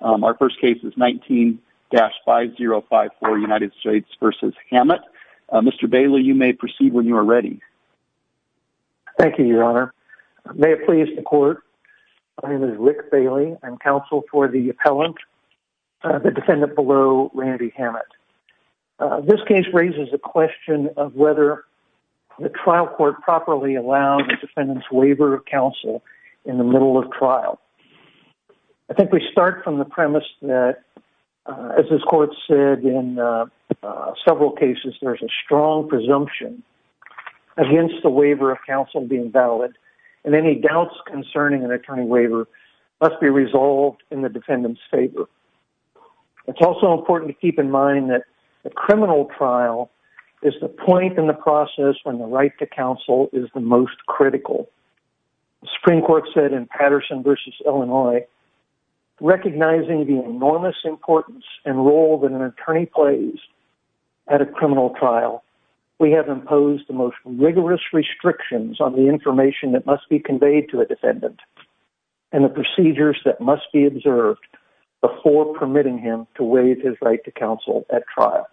Our first case is 19-5054 United States v. Hamett. Mr. Bailey, you may proceed when you are ready. Thank you, Your Honor. May it please the Court, my name is Rick Bailey. I'm counsel for the appellant, the defendant below, Randy Hamett. This case raises the question of whether the trial court properly allowed the defendant's waiver of counsel in the middle of trial. I think we start from the premise that, as this Court said in several cases, there's a strong presumption against the waiver of counsel being valid and any doubts concerning an attorney waiver must be resolved in the defendant's favor. It's also important to keep in mind that the criminal trial is the point in the process when the right to counsel is the most critical. The Supreme Court said in Patterson v. Illinois, recognizing the enormous importance and role that an attorney plays at a criminal trial, we have imposed the most rigorous restrictions on the information that must be conveyed to a defendant and the procedures that must be observed before permitting him to waive his right to counsel at trial.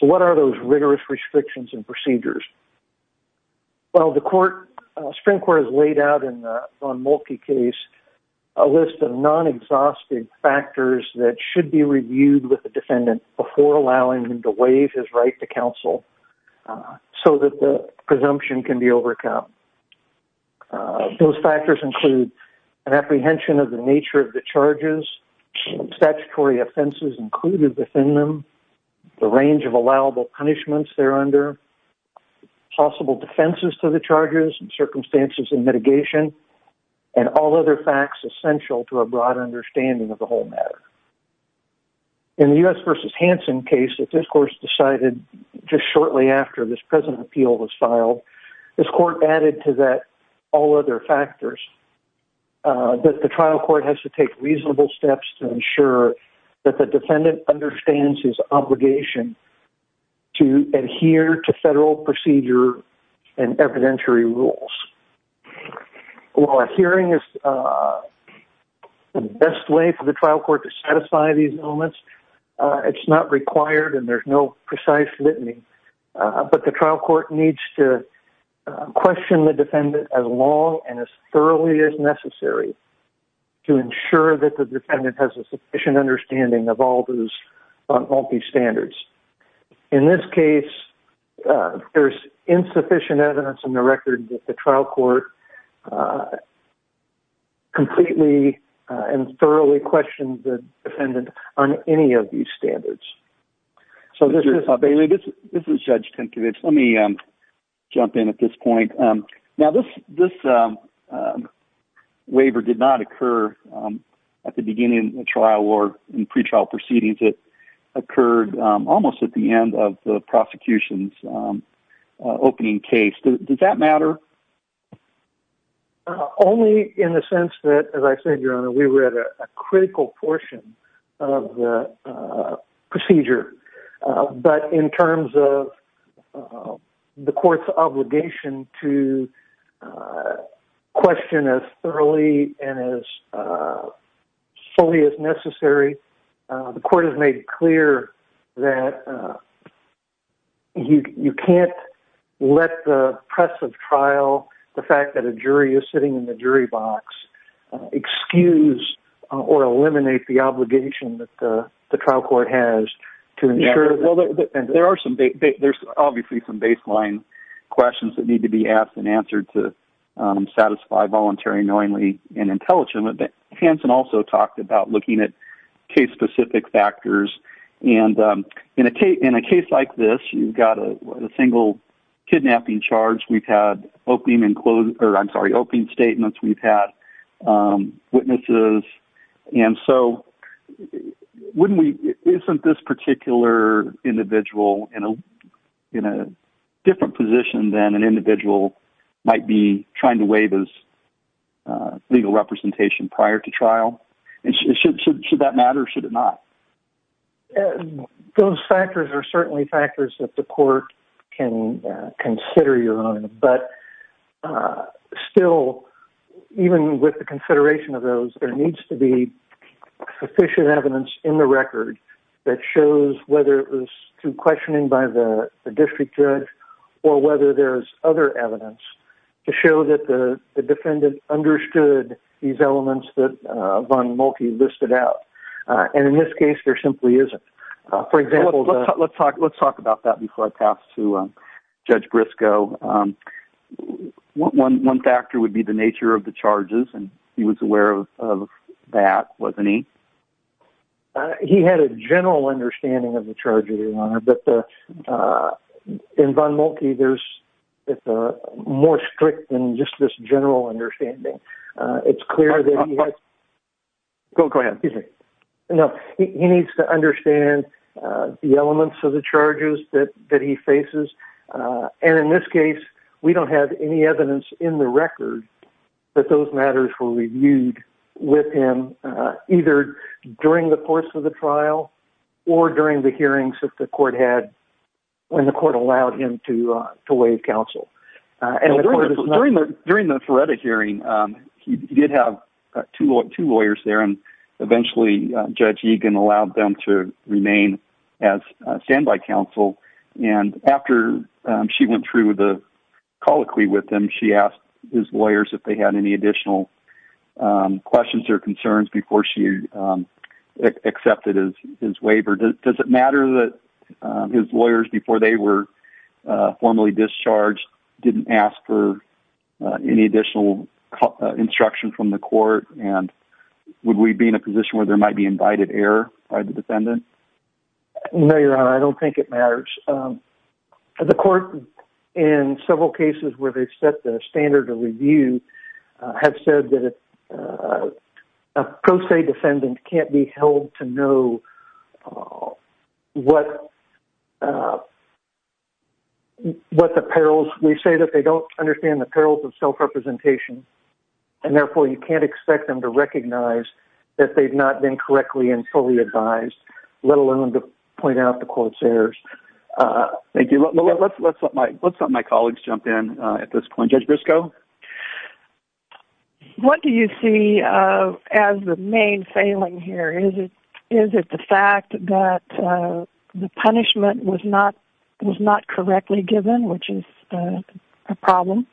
So what are those rigorous restrictions and procedures? Well, the Supreme Court has laid out in the Von Moltke case a list of non-exhaustive factors that should be reviewed with the defendant before allowing him to waive his right to counsel so that the presumption can be overcome. Those factors include an apprehension of the nature of the charges, statutory offenses included within them, the range of allowable punishments they're under, possible defenses to the charges and circumstances in mitigation, and all other facts essential to a broader understanding of the whole matter. In the U.S. v. Hansen case that this court's decided just shortly after this present appeal was filed, this court added to that all other factors that the trial court has to take reasonable steps to ensure that the defendant understands his obligation to adhere to federal procedure and evidentiary rules. While adhering is the best way for the trial court to satisfy these elements, it's not required and there's no precise litany, but the trial court needs to question the defendant as long and as thoroughly as necessary to ensure that the defendant has a sufficient understanding of all these standards. In this case, there's insufficient evidence in the record that the trial court completely and thoroughly questioned the defendant on any of these standards. So this is... This is Judge Tinkovich. Let me jump in at this point. Now, this waiver did not occur at the beginning of the trial or in pretrial proceedings. It occurred almost at the end of the prosecution's opening case. Did that matter? Only in the sense that, as I said, Your Honor, we were at a critical portion of the procedure, but in terms of the court's obligation to question as thoroughly and as fully as necessary, the court has made clear that you can't let the press of trial, the fact that a jury is sitting in the jury box, excuse or eliminate the obligation that the trial court has to ensure... There are some... There's obviously some baseline questions that need to be asked and answered to satisfy voluntary, knowingly, and intelligently, but Hanson also talked about looking at case-specific factors. And in a case like this, you've got a single kidnapping charge. We've had opening and closing... Or, I'm sorry, opening statements. We've had witnesses. And so wouldn't we... Isn't this particular individual in a different position than an individual might be trying to weigh this legal representation prior to trial? And should that matter or should it not? Those factors are certainly factors that the court can consider, Your Honor, but still, even with the consideration of those, there needs to be sufficient evidence in the record that shows whether it was through questioning by the district judge or whether there's other evidence to show that the defendant understood these elements that Von Moltke listed out. And in this case, there simply isn't. For example... Let's talk about that before I pass to Judge Briscoe. One factor would be the nature of the charges, and he was aware of that, wasn't he? He had a general understanding of the charges, Your Honor, but in Von Moltke, there's more strict than just this general understanding. It's clear that he has... Go ahead. No, he needs to understand the elements of the charges that he faces. And in this case, we don't have any evidence in the record that those matters were reviewed with him either during the course of the trial or during the hearings that the court had when the court allowed him to waive counsel. And the court is not... During the Ferretta hearing, he did have two lawyers there, and eventually Judge Egan allowed them to remain as standby counsel. And after she went through the colloquy with him, she asked his lawyers if they had any additional questions or concerns before she accepted his waiver. Does it matter that his lawyers, before they were formally discharged, didn't ask for any additional instruction from the court? And would we be in a position where there might be invited error by the defendant? No, Your Honor, I don't think it matters. The court, in several cases where they've set the standard of review, have said that a pro se defendant can't be held to know what the perils... We say that they don't understand the perils of self-representation, and therefore you can't expect them to recognize that they've not been correctly and fully advised, let alone to point out the court's errors. Thank you. Let's let my colleagues jump in at this point. Judge Briscoe? What do you see as the main failing here? Is it the fact that the punishment was not correctly given, which is a problem?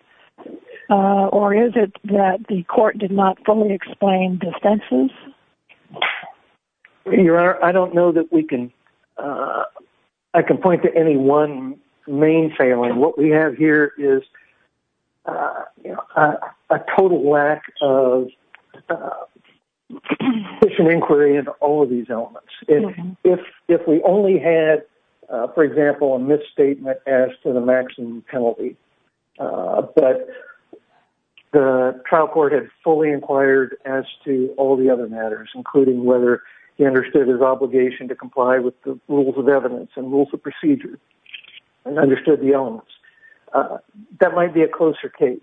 Or is it that the court did not fully explain defenses? Your Honor, I don't know that we can... I can point to any one main failing. What we have here is a total lack of sufficient inquiry into all of these elements. If we only had, for example, a misstatement as to the maximum penalty, but the trial court had fully inquired as to all the other matters, including whether he understood his obligation to comply with the rules of evidence and rules of procedure and understood the elements, that might be a closer case.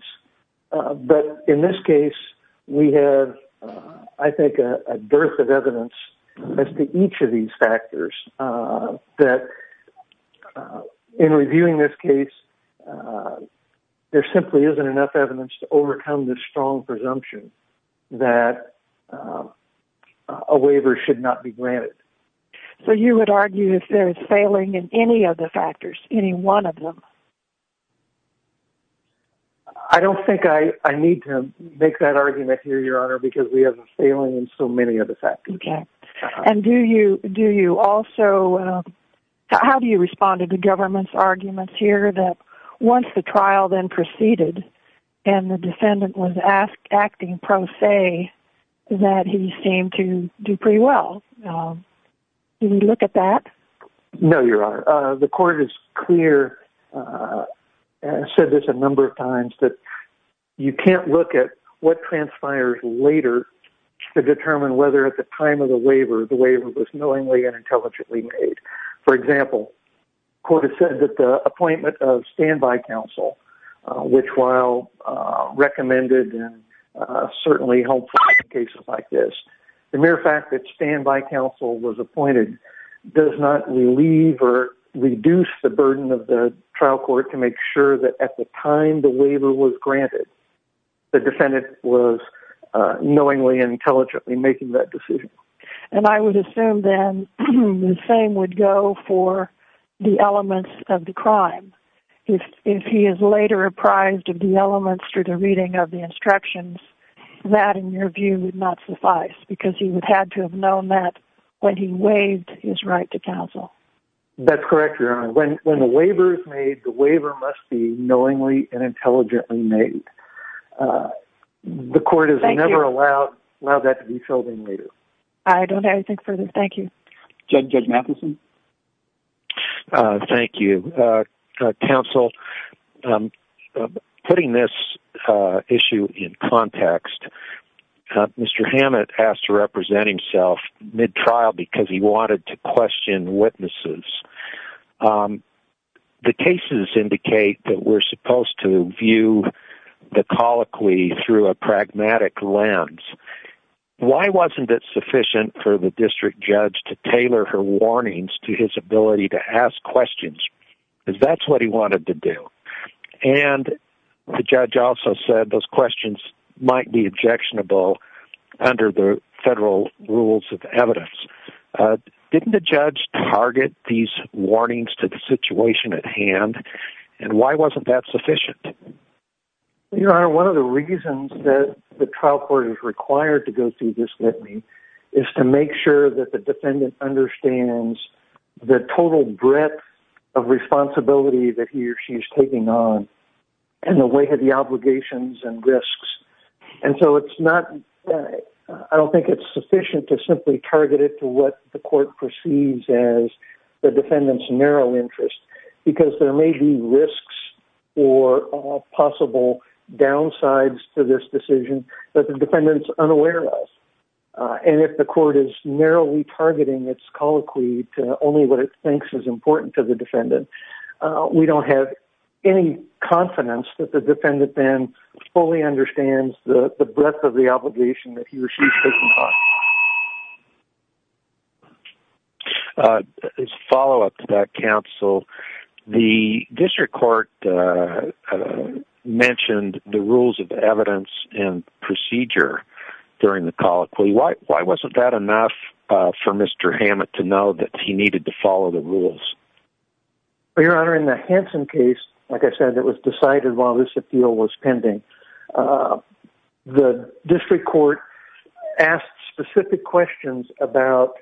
But in this case, we have, I think, a dearth of evidence as to each of these factors that, in reviewing this case, there simply isn't enough evidence that a waiver should not be granted. So you would argue if there is failing in any of the factors, any one of them? I don't think I need to make that argument here, Your Honor, because we have a failing in so many of the factors. Okay. And do you also... How do you respond to the government's arguments here and the defendant was acting pro se that he seemed to do pretty well? Do you look at that? No, Your Honor. The court is clear and has said this a number of times that you can't look at what transpires later to determine whether, at the time of the waiver, the waiver was knowingly and intelligently made. For example, the court has said that the appointment of standby counsel, which while recommended and certainly helpful in cases like this, the mere fact that standby counsel was appointed does not relieve or reduce the burden of the trial court to make sure that, at the time the waiver was granted, the defendant was knowingly and intelligently making that decision. And I would assume, then, the same would go for the elements of the crime. If he is later apprised of the elements through the reading of the instructions, that, in your view, would not suffice because he would have to have known that when he waived his right to counsel. That's correct, Your Honor. When the waiver is made, the waiver must be knowingly and intelligently made. The court has never allowed that to be filled in later. I don't have anything further. Thank you. Judge Matheson? Thank you. Counsel, putting this issue in context, Mr. Hammett asked to represent himself mid-trial because he wanted to question witnesses. The cases indicate that we're supposed to view the colloquy through a pragmatic lens. Why wasn't it sufficient for the district judge to tailor her warnings to his ability to ask questions? Because that's what he wanted to do. And the judge also said those questions might be objectionable under the federal rules of evidence. Didn't the judge target these warnings to the situation at hand? And why wasn't that sufficient? Your Honor, one of the reasons that the trial court is required to go through this litany is to make sure that the defendant understands the total breadth of responsibility that he or she is taking on and the weight of the obligations and risks. And so it's not, I don't think it's sufficient to simply target it to what the court perceives as the defendant's narrow interest because there may be risks or possible downsides to this decision that the defendant's unaware of. And if the court is narrowly targeting its colloquy to only what it thinks is important to the defendant, we don't have any confidence that the defendant then fully understands the breadth of the obligation that he or she is taking on. As a follow-up to that, counsel, the district court mentioned the rules of evidence and procedure during the colloquy. Why wasn't that enough for Mr. Hammett to know that he needed to follow the rules? Your Honor, in the Hansen case, like I said, it was decided while this appeal was pending. The district court asked specific questions about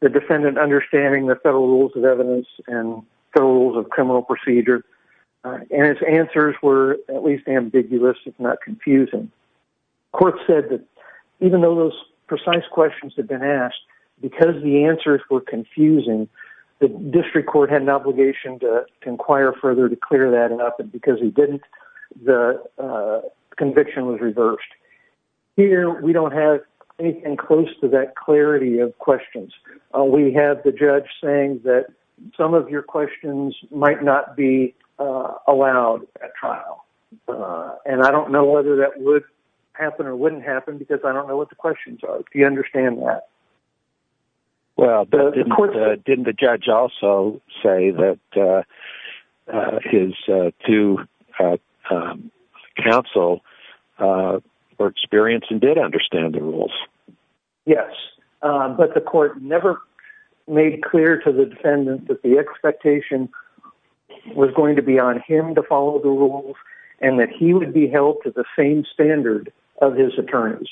the defendant understanding the federal rules of evidence and federal rules of criminal procedure. And its answers were at least ambiguous, if not confusing. Court said that even though those precise questions had been asked, because the answers were confusing, the district court had an obligation to inquire further to clear that up. And because he didn't, the conviction was reversed. Here, we don't have anything close to that clarity of questions. We have the judge saying that some of your questions might not be allowed at trial. And I don't know whether that would happen or wouldn't happen because I don't know what the questions are. Do you understand that? Well, didn't the judge also say that his two counsel were experienced and did understand the rules? Yes, but the court never made clear to the defendant that the expectation was going to be on him to follow the rules and that he would be held to the same standard of his attorneys.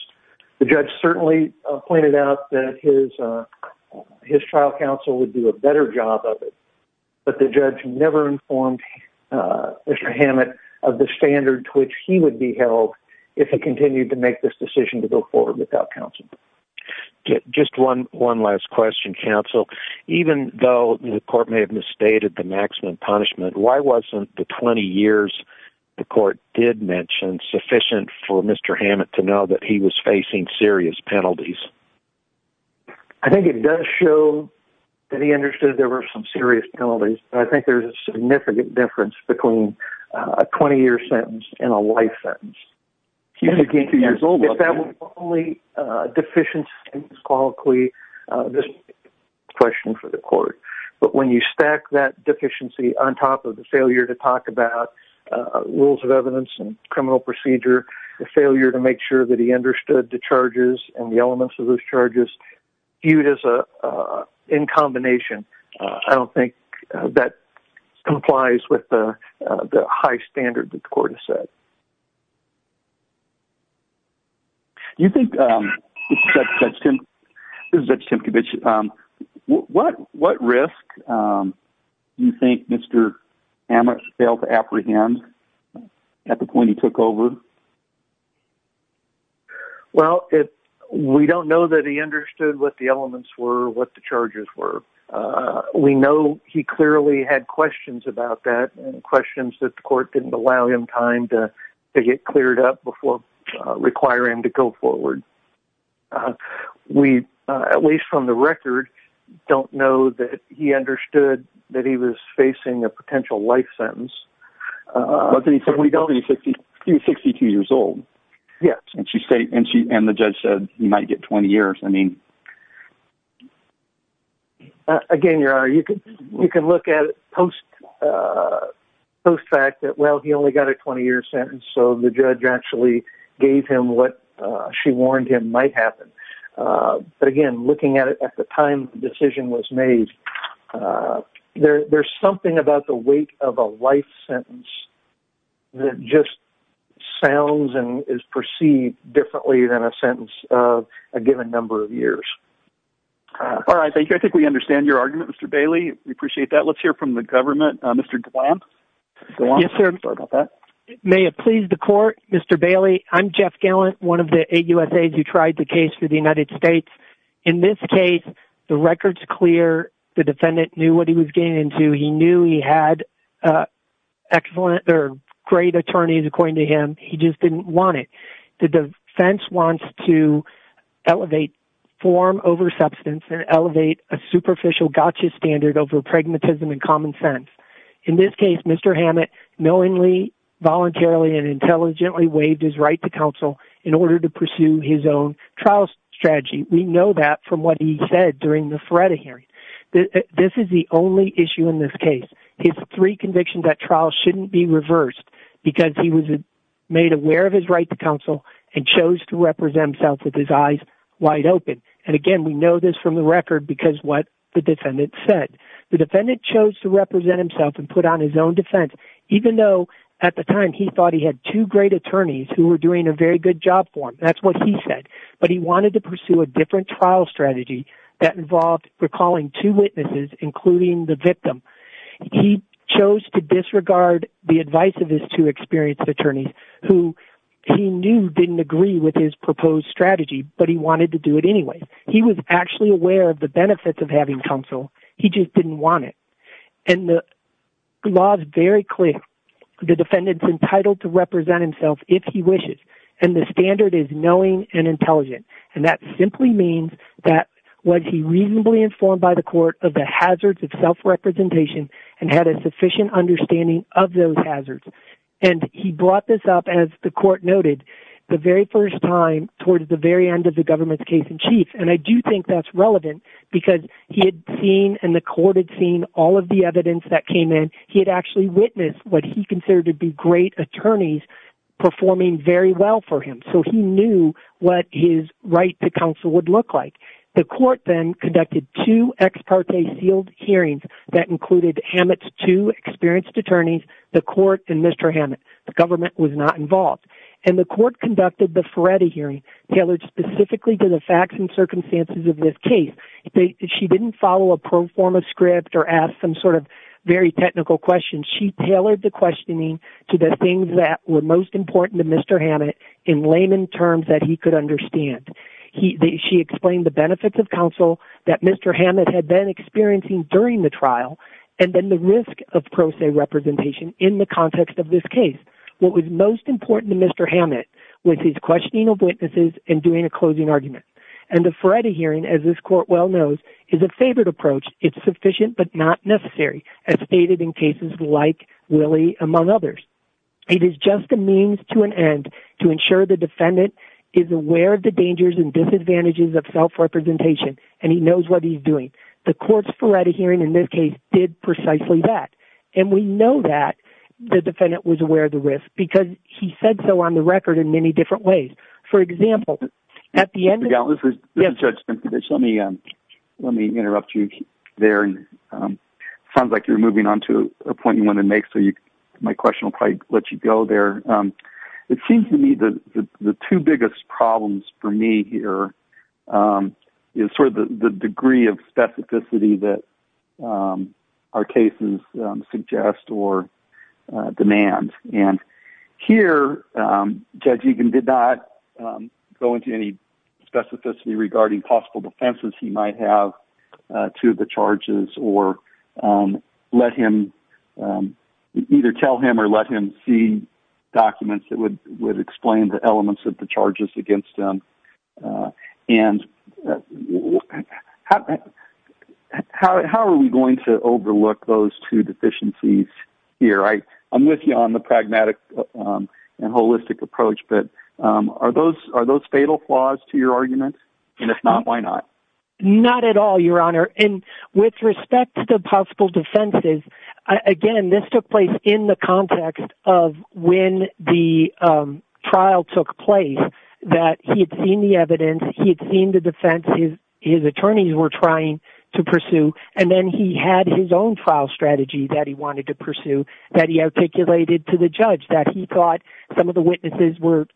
The judge certainly pointed out that his trial counsel would do a better job of it, but the judge never informed Mr. Hammett of the standard to which he would be held if he continued to make this decision to go forward without counsel. Just one last question, counsel. Even though the court may have misstated the maximum punishment, why wasn't the 20 years the court did mention sufficient for Mr. Hammett to know that he was facing serious penalties? I think it does show that he understood there were some serious penalties, but I think there's a significant difference between a 20-year sentence and a life sentence. If that was the only deficient sentence, I don't think the court would have asked this question for the court. But when you stack that deficiency on top of the failure to talk about rules of evidence and criminal procedure, the failure to make sure that he understood the charges and the elements of those charges, viewed as in combination, I don't think that complies with the high standard that the court has set. You think, this is Judge Tempkiewicz, what risk do you think Mr. Hammett failed to apprehend at the point he took over? Well, we don't know that he understood what the elements were, what the charges were. We know he clearly had questions about that and questions that the court didn't allow him time to get cleared up before requiring him to go forward. We, at least from the record, don't know that he understood that he was facing a potential life sentence. But he said he was 62 years old. Yes. And the judge said he might get 20 years. I mean... Again, Your Honor, you can look at it post-fact that, well, he only got a 20-year sentence, so the judge actually gave him what she warned him might happen. But again, looking at it at the time the decision was made, there's something about the weight of a life sentence that just sounds and is perceived differently than a sentence of a given number of years. All right, thank you. I think we understand your argument, Mr. Bailey. We appreciate that. Let's hear from the government. Mr. Glantz. Yes, sir. May it please the court. Mr. Bailey, I'm Jeff Glantz, one of the eight USAIDs who tried the case for the United States. In this case, the record's clear. The defendant knew what he was getting into. He knew he had excellent or great attorneys, according to him. He just didn't want it. The defense wants to elevate form over substance and elevate a superficial gotcha standard over pragmatism and common sense. In this case, Mr. Hammett knowingly, voluntarily, and intelligently waived his right to counsel in order to pursue his own trial strategy. We know that from what he said during the Feretta hearing. This is the only issue in this case. His three convictions at trial shouldn't be reversed because he was made aware of his right to counsel and chose to represent himself with his eyes wide open. And again, we know this from the record because what the defendant said. The defendant chose to represent himself and put on his own defense, even though at the time he thought he had two great attorneys who were doing a very good job for him. That's what he said. But he wanted to pursue a different trial strategy that involved recalling two witnesses, including the victim. He chose to disregard the advice of his two experienced attorneys who he knew didn't agree with his proposed strategy, but he wanted to do it anyway. He was actually aware of the benefits of having counsel. He just didn't want it. And the law is very clear. The defendant's entitled to represent himself if he wishes, and the standard is knowing and intelligent. And that simply means that was he reasonably informed by the court of the hazards of self-representation and had a sufficient understanding of those hazards. And he brought this up, as the court noted, the very first time towards the very end of the government's case in chief. And I do think that's relevant because he had seen and the court had seen all of the evidence that came in. He had actually witnessed what he considered to be great attorneys performing very well for him. So he knew what his right to counsel would look like. The court then conducted two ex parte sealed hearings that included Hammett's two experienced attorneys, the court and Mr. Hammett. The government was not involved. And the court conducted the Ferretti hearing, tailored specifically to the facts and circumstances of this case. She didn't follow a pro forma script or ask some sort of very technical questions. She tailored the questioning to the things that were most important to Mr. Hammett in layman terms that he could understand. She explained the benefits of counsel that Mr. Hammett had been experiencing during the trial and then the risk of pro se representation in the context of this case. What was most important to Mr. Hammett was his questioning of witnesses and doing a closing argument. And the Ferretti hearing, as this court well knows, is a favored approach. It's sufficient but not necessary, as stated in cases like Willie, among others. It is just a means to an end to ensure the defendant is aware of the dangers and disadvantages of self-representation and he knows what he's doing. The court's Ferretti hearing in this case did precisely that. And we know that the defendant was aware of the risk because he said so on the record in many different ways. For example, at the end of the... Mr. Gellin, this is Judge Simpovich. Let me interrupt you there. It sounds like you're moving on to a point you want to make, so my question will probably let you go there. It seems to me that the two biggest problems for me here is sort of the degree of specificity that our cases suggest or demand. And here, Judge Egan did not go into any specificity regarding possible offenses he might have to the charges or let him... either tell him or let him see documents that would explain the elements of the charges against him. And how are we going to overlook those two deficiencies here? I'm with you on the pragmatic and holistic approach, but are those fatal flaws to your argument? And if not, why not? Not at all, Your Honor. And with respect to the possible defenses, again, this took place in the context of when the trial took place, that he'd seen the evidence, he'd seen the defenses his attorneys were trying to pursue, and then he had his own trial strategy that he wanted to pursue that he articulated to the judge, that he thought some of the witnesses were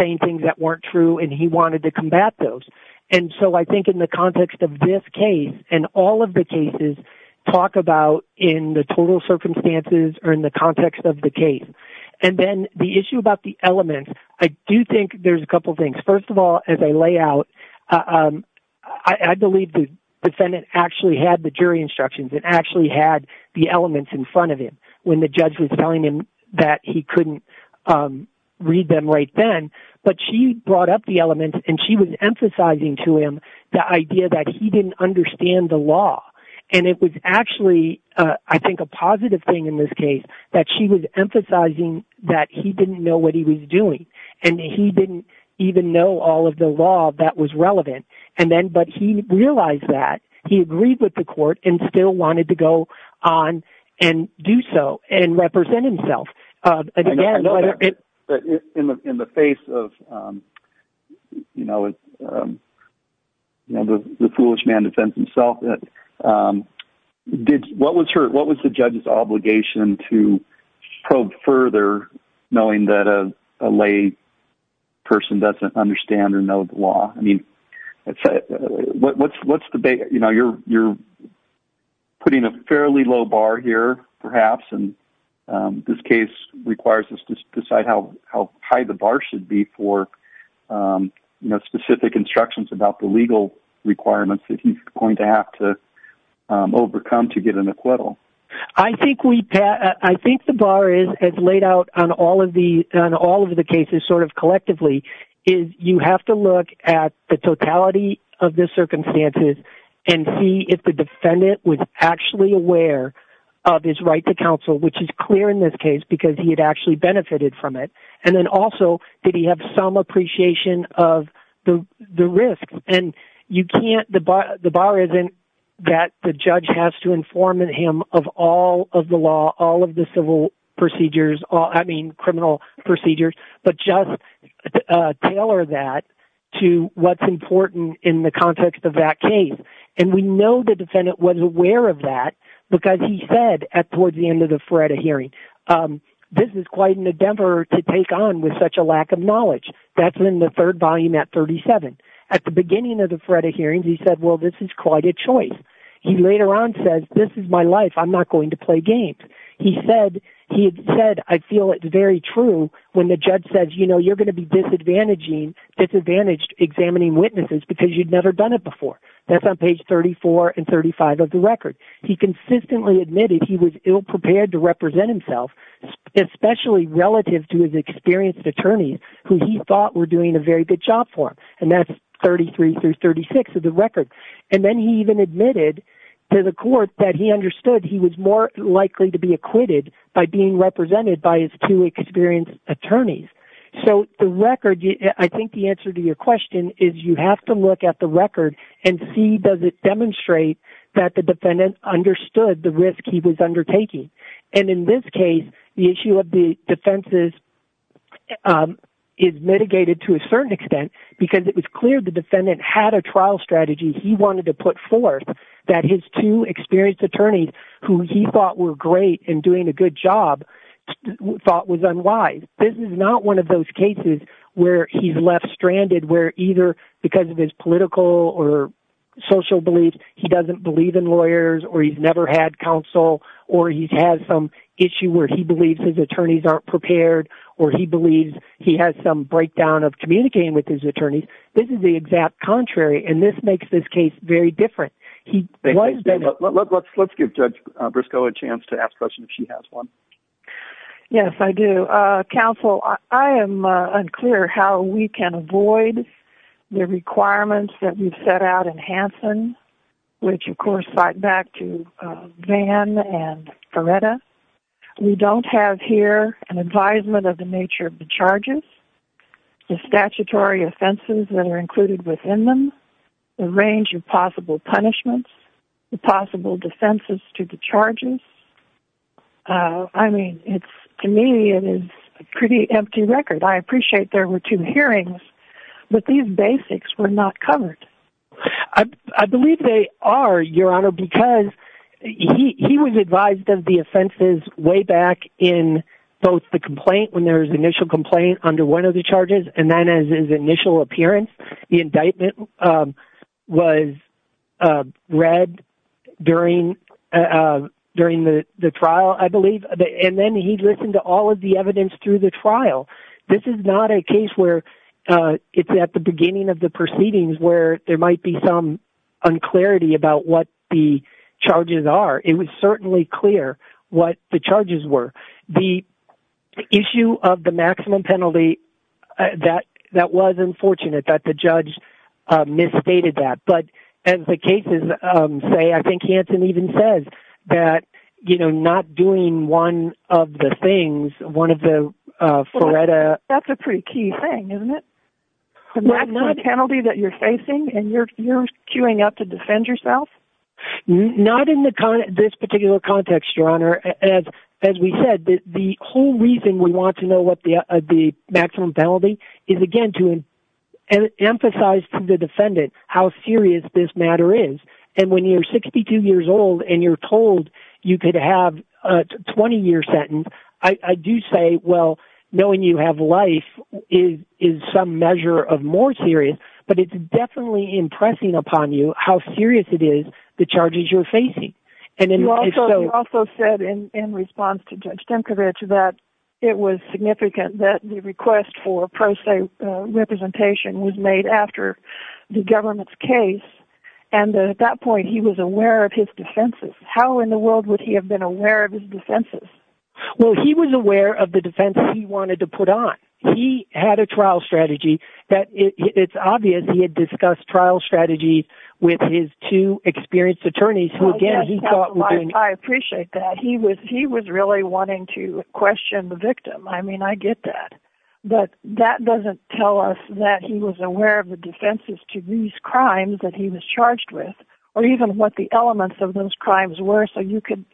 saying things that weren't true and he wanted to combat those. And so I think in the context of this case and all of the cases talk about in the total circumstances or in the context of the case. And then the issue about the elements, I do think there's a couple things. First of all, as I lay out, I believe the defendant actually had the jury instructions and actually had the elements in front of him. When the judge was telling him that he couldn't read them right then, but she brought up the elements and she was emphasizing to him the idea that he didn't understand the law. And it was actually, I think, a positive thing in this case that she was emphasizing that he didn't know what he was doing and that he didn't even know all of the law that was relevant. And then, but he realized that. He agreed with the court and still wanted to go on and do so and represent himself. Again, whether it... In the face of the foolish man defends himself, what was the judge's obligation to probe further knowing that a lay person doesn't understand or know the law? I mean, what's the big... You're putting a fairly low bar here, perhaps, and this case requires us to decide how high the bar should be for specific instructions about the legal requirements that he's going to have to overcome to get an acquittal. I think the bar, as laid out on all of the cases, sort of collectively, is you have to look at the totality of the circumstances and see if the defendant was actually aware of his right to counsel, which is clear in this case because he had actually benefited from it. And then also, did he have some appreciation of the risk? And you can't... The bar isn't that the judge has to inform him of all of the law, all of the civil procedures, I mean, criminal procedures, but just tailor that to what's important in the context of that case. And we know the defendant was aware of that because he said, at towards the end of the FREDA hearing, this is quite an endeavor to take on with such a lack of knowledge. That's in the third volume at 37. At the beginning of the FREDA hearings, he said, well, this is quite a choice. He later on says, this is my life. I'm not going to play games. He said, I feel it's very true when the judge says, you know, you're going to be disadvantaging, disadvantaged examining witnesses because you'd never done it before. That's on page 34 and 35 of the record. He consistently admitted he was ill-prepared to represent himself, especially relative to his experienced attorneys who he thought were doing a very good job for him. And that's 33 through 36 of the record. And then he even admitted to the court that he understood he was more likely to be acquitted by being represented by his two experienced attorneys. So the record, I think the answer to your question is you have to look at the record and see does it demonstrate that the defendant understood the risk he was undertaking. And in this case, the issue of the defenses is mitigated to a certain extent because it was clear the defendant had a trial strategy he wanted to put forth that his two experienced attorneys who he thought were great in doing a good job thought was unwise. This is not one of those cases where he's left stranded, where either because of his political or social beliefs, he doesn't believe in lawyers or he's never had counsel or he's had some issue where he believes his attorneys aren't prepared or he believes he has some breakdown of communicating with his attorneys. This is the exact contrary and this makes this case very different. Let's give Judge Briscoe a chance to ask questions if she has one. Yes, I do. Counsel, I am unclear how we can avoid the requirements that we've set out in Hansen, which of course fight back to Van and Coretta. We don't have here an advisement of the nature of the charges, the statutory offenses that are included within them, the range of possible punishments, the possible defenses to the charges. I mean, to me, it is a pretty empty record. I appreciate there were two hearings, but these basics were not covered. I believe they are, Your Honor, because he was advised of the offenses way back in both the complaint, when there was initial complaint under one of the charges and then as his initial appearance, the indictment was read during the trial, I believe, and then he listened to all of the evidence through the trial. This is not a case where it's at the beginning of the proceedings where there might be some unclarity about what the charges are. It was certainly clear what the charges were. The issue of the maximum penalty, that was unfortunate that the judge misstated that, but as the cases say, I think he actually even says that, you know, not doing one of the things, one of the, Faretta... That's a pretty key thing, isn't it? The maximum penalty that you're facing and you're queuing up to defend yourself? Not in this particular context, Your Honor. As we said, the whole reason we want to know what the maximum penalty is, again, to emphasize to the defendant how serious this matter is, and when you're 62 years old and you're told you could have a 20-year sentence, I do say, well, knowing you have life is some measure of more serious, but it's definitely impressing upon you how serious it is, the charges you're facing. You also said in response to Judge Stankiewicz that it was significant that the request for pro se representation was made after the government's case, and that at that point, he was aware of his defenses. How in the world would he have been aware of his defenses? Well, he was aware of the defense he wanted to put on. He had a trial strategy that it's obvious he had discussed trial strategies with his two experienced attorneys, who, again, he thought were doing... I appreciate that. He was really wanting to question the victim. I mean, I get that, but that doesn't tell us that he was aware of the defenses to these crimes that he was charged with, or even what the elements of those crimes were, so you could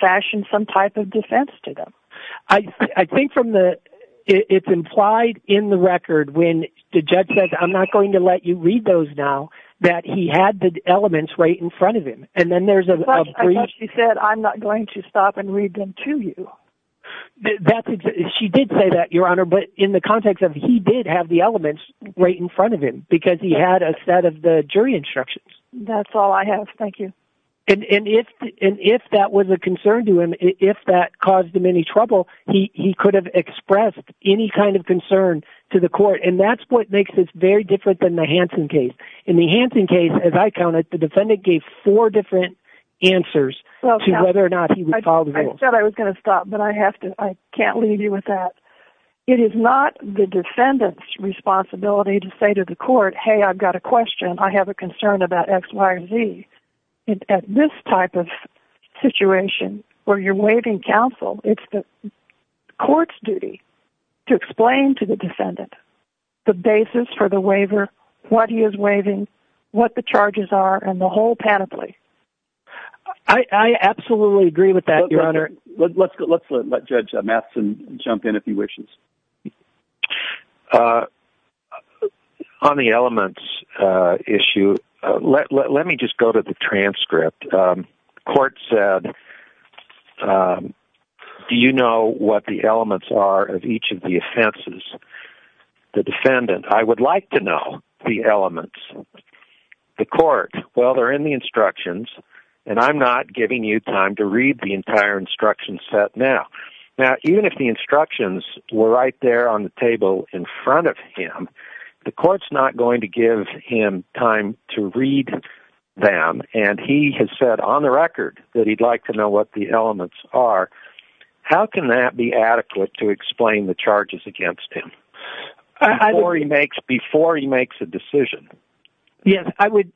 fashion some type of defense to them. I think from the... It's implied in the record when the judge says, I'm not going to let you read those now, that he had the elements right in front of him, and then there's a brief... She said, I'm not going to stop and read them to you. That's exactly... She did say that, Your Honor, but in the context of he did have the elements right in front of him because he had a set of the jury instructions. That's all I have. Thank you. And if that was a concern to him, if that caused him any trouble, he could have expressed any kind of concern to the court, and that's what makes this very different than the Hansen case. In the Hansen case, as I counted, the defendant gave four different answers to whether or not he would follow the rules. I thought I was going to stop, but I have to... I can't leave you with that. It is not the defendant's responsibility to say to the court, hey, I've got a question. I have a concern about X, Y, or Z. At this type of situation where you're waiving counsel, it's the court's duty to explain to the defendant the basis for the waiver, what he is waiving, what the charges are, and the whole panoply. I absolutely agree with that, Your Honor. Let's let Judge Matheson jump in if he wishes. On the elements issue, let me just go to the transcript. Court said, do you know what the elements are of each of the offenses? The defendant, I would like to know the elements. The court, well, they're in the instructions, and I'm not giving you time to read the entire instruction set now. Now, even if the instructions were right there on the table in front of him, the court's not going to give him time to read them, and he has said on the record that he'd like to know what the elements are. How can that be adequate to explain the charges against him before he makes a decision? Yes, I would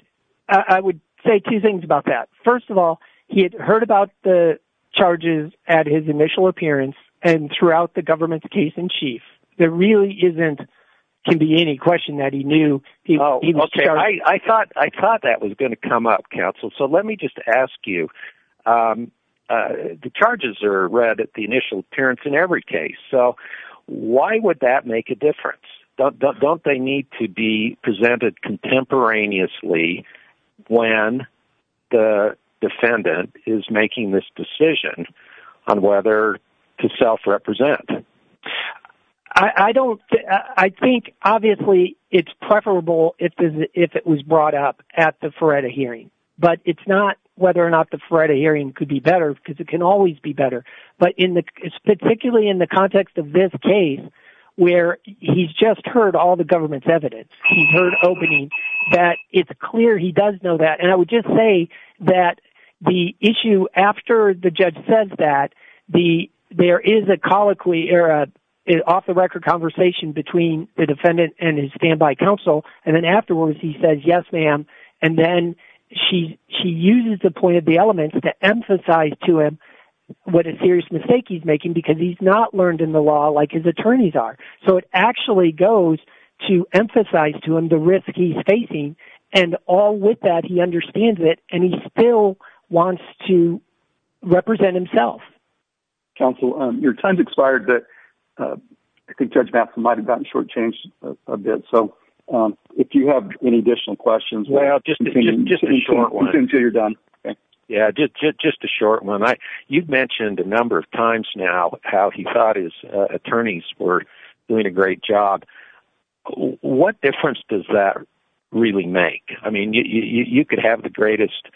say two things about that. First of all, he had heard about the charges at his initial appearance and throughout the government's case-in-chief. There really isn't, can be any question that he knew he was charged. I thought that was going to come up, counsel, so let me just ask you, the charges are read at the initial appearance in every case, so why would that make a difference? Don't they need to be presented contemporaneously when the defendant is making this decision on whether to self-represent? I don't, I think, obviously, it's preferable if it was brought up at the Feretta hearing, but it's not whether or not the Feretta hearing could be better, because it can always be better, but in the, particularly in the context of this case, where he's just heard all the government's evidence, he's heard opening, that it's clear he does know that, and I would just say that the issue after the judge says that, there is a colloquy, or an off-the-record conversation between the defendant and his standby counsel, and then afterwards, he says, yes, ma'am, and then she uses the point of the element to emphasize to him what a serious mistake he's making, because he's not learned in the law like his attorneys are, so it actually goes to emphasize to him the risk he's facing, and all with that, he understands it, and he still wants to represent himself. Counsel, your time's expired, but I think Judge Matheson might have gotten shortchanged a bit, so if you have any additional questions, we can continue until you're done. Yeah, just a short one. You've mentioned a number of times now how he thought his attorneys were doing a great job. What difference does that really make? I mean, you could have the greatest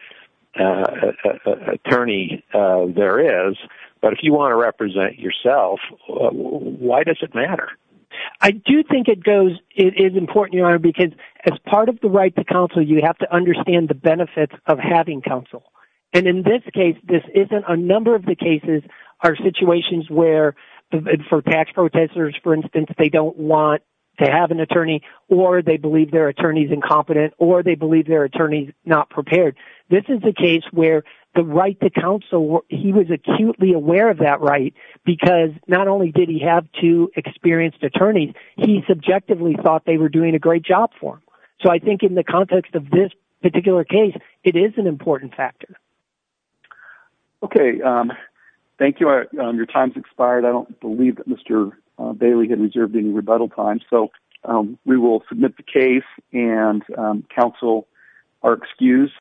attorney there is, but if you want to represent yourself, why does it matter? I do think it is important, Your Honor, because as part of the right to counsel, you have to understand the benefits of having counsel, and in this case, this isn't a number of the cases are situations where, for tax protestors, for instance, they don't want to have an attorney, or they believe their attorney's incompetent, or they believe their attorney's not prepared. This is a case where the right to counsel, he was acutely aware of that right, because not only did he have two experienced attorneys, he subjectively thought they were doing a great job for him, so I think in the context of this particular case, it is an important factor. Okay, thank you. Your time's expired. I don't believe that Mr. Bailey had reserved any rebuttal time, so we will submit the case, and counsel are excused.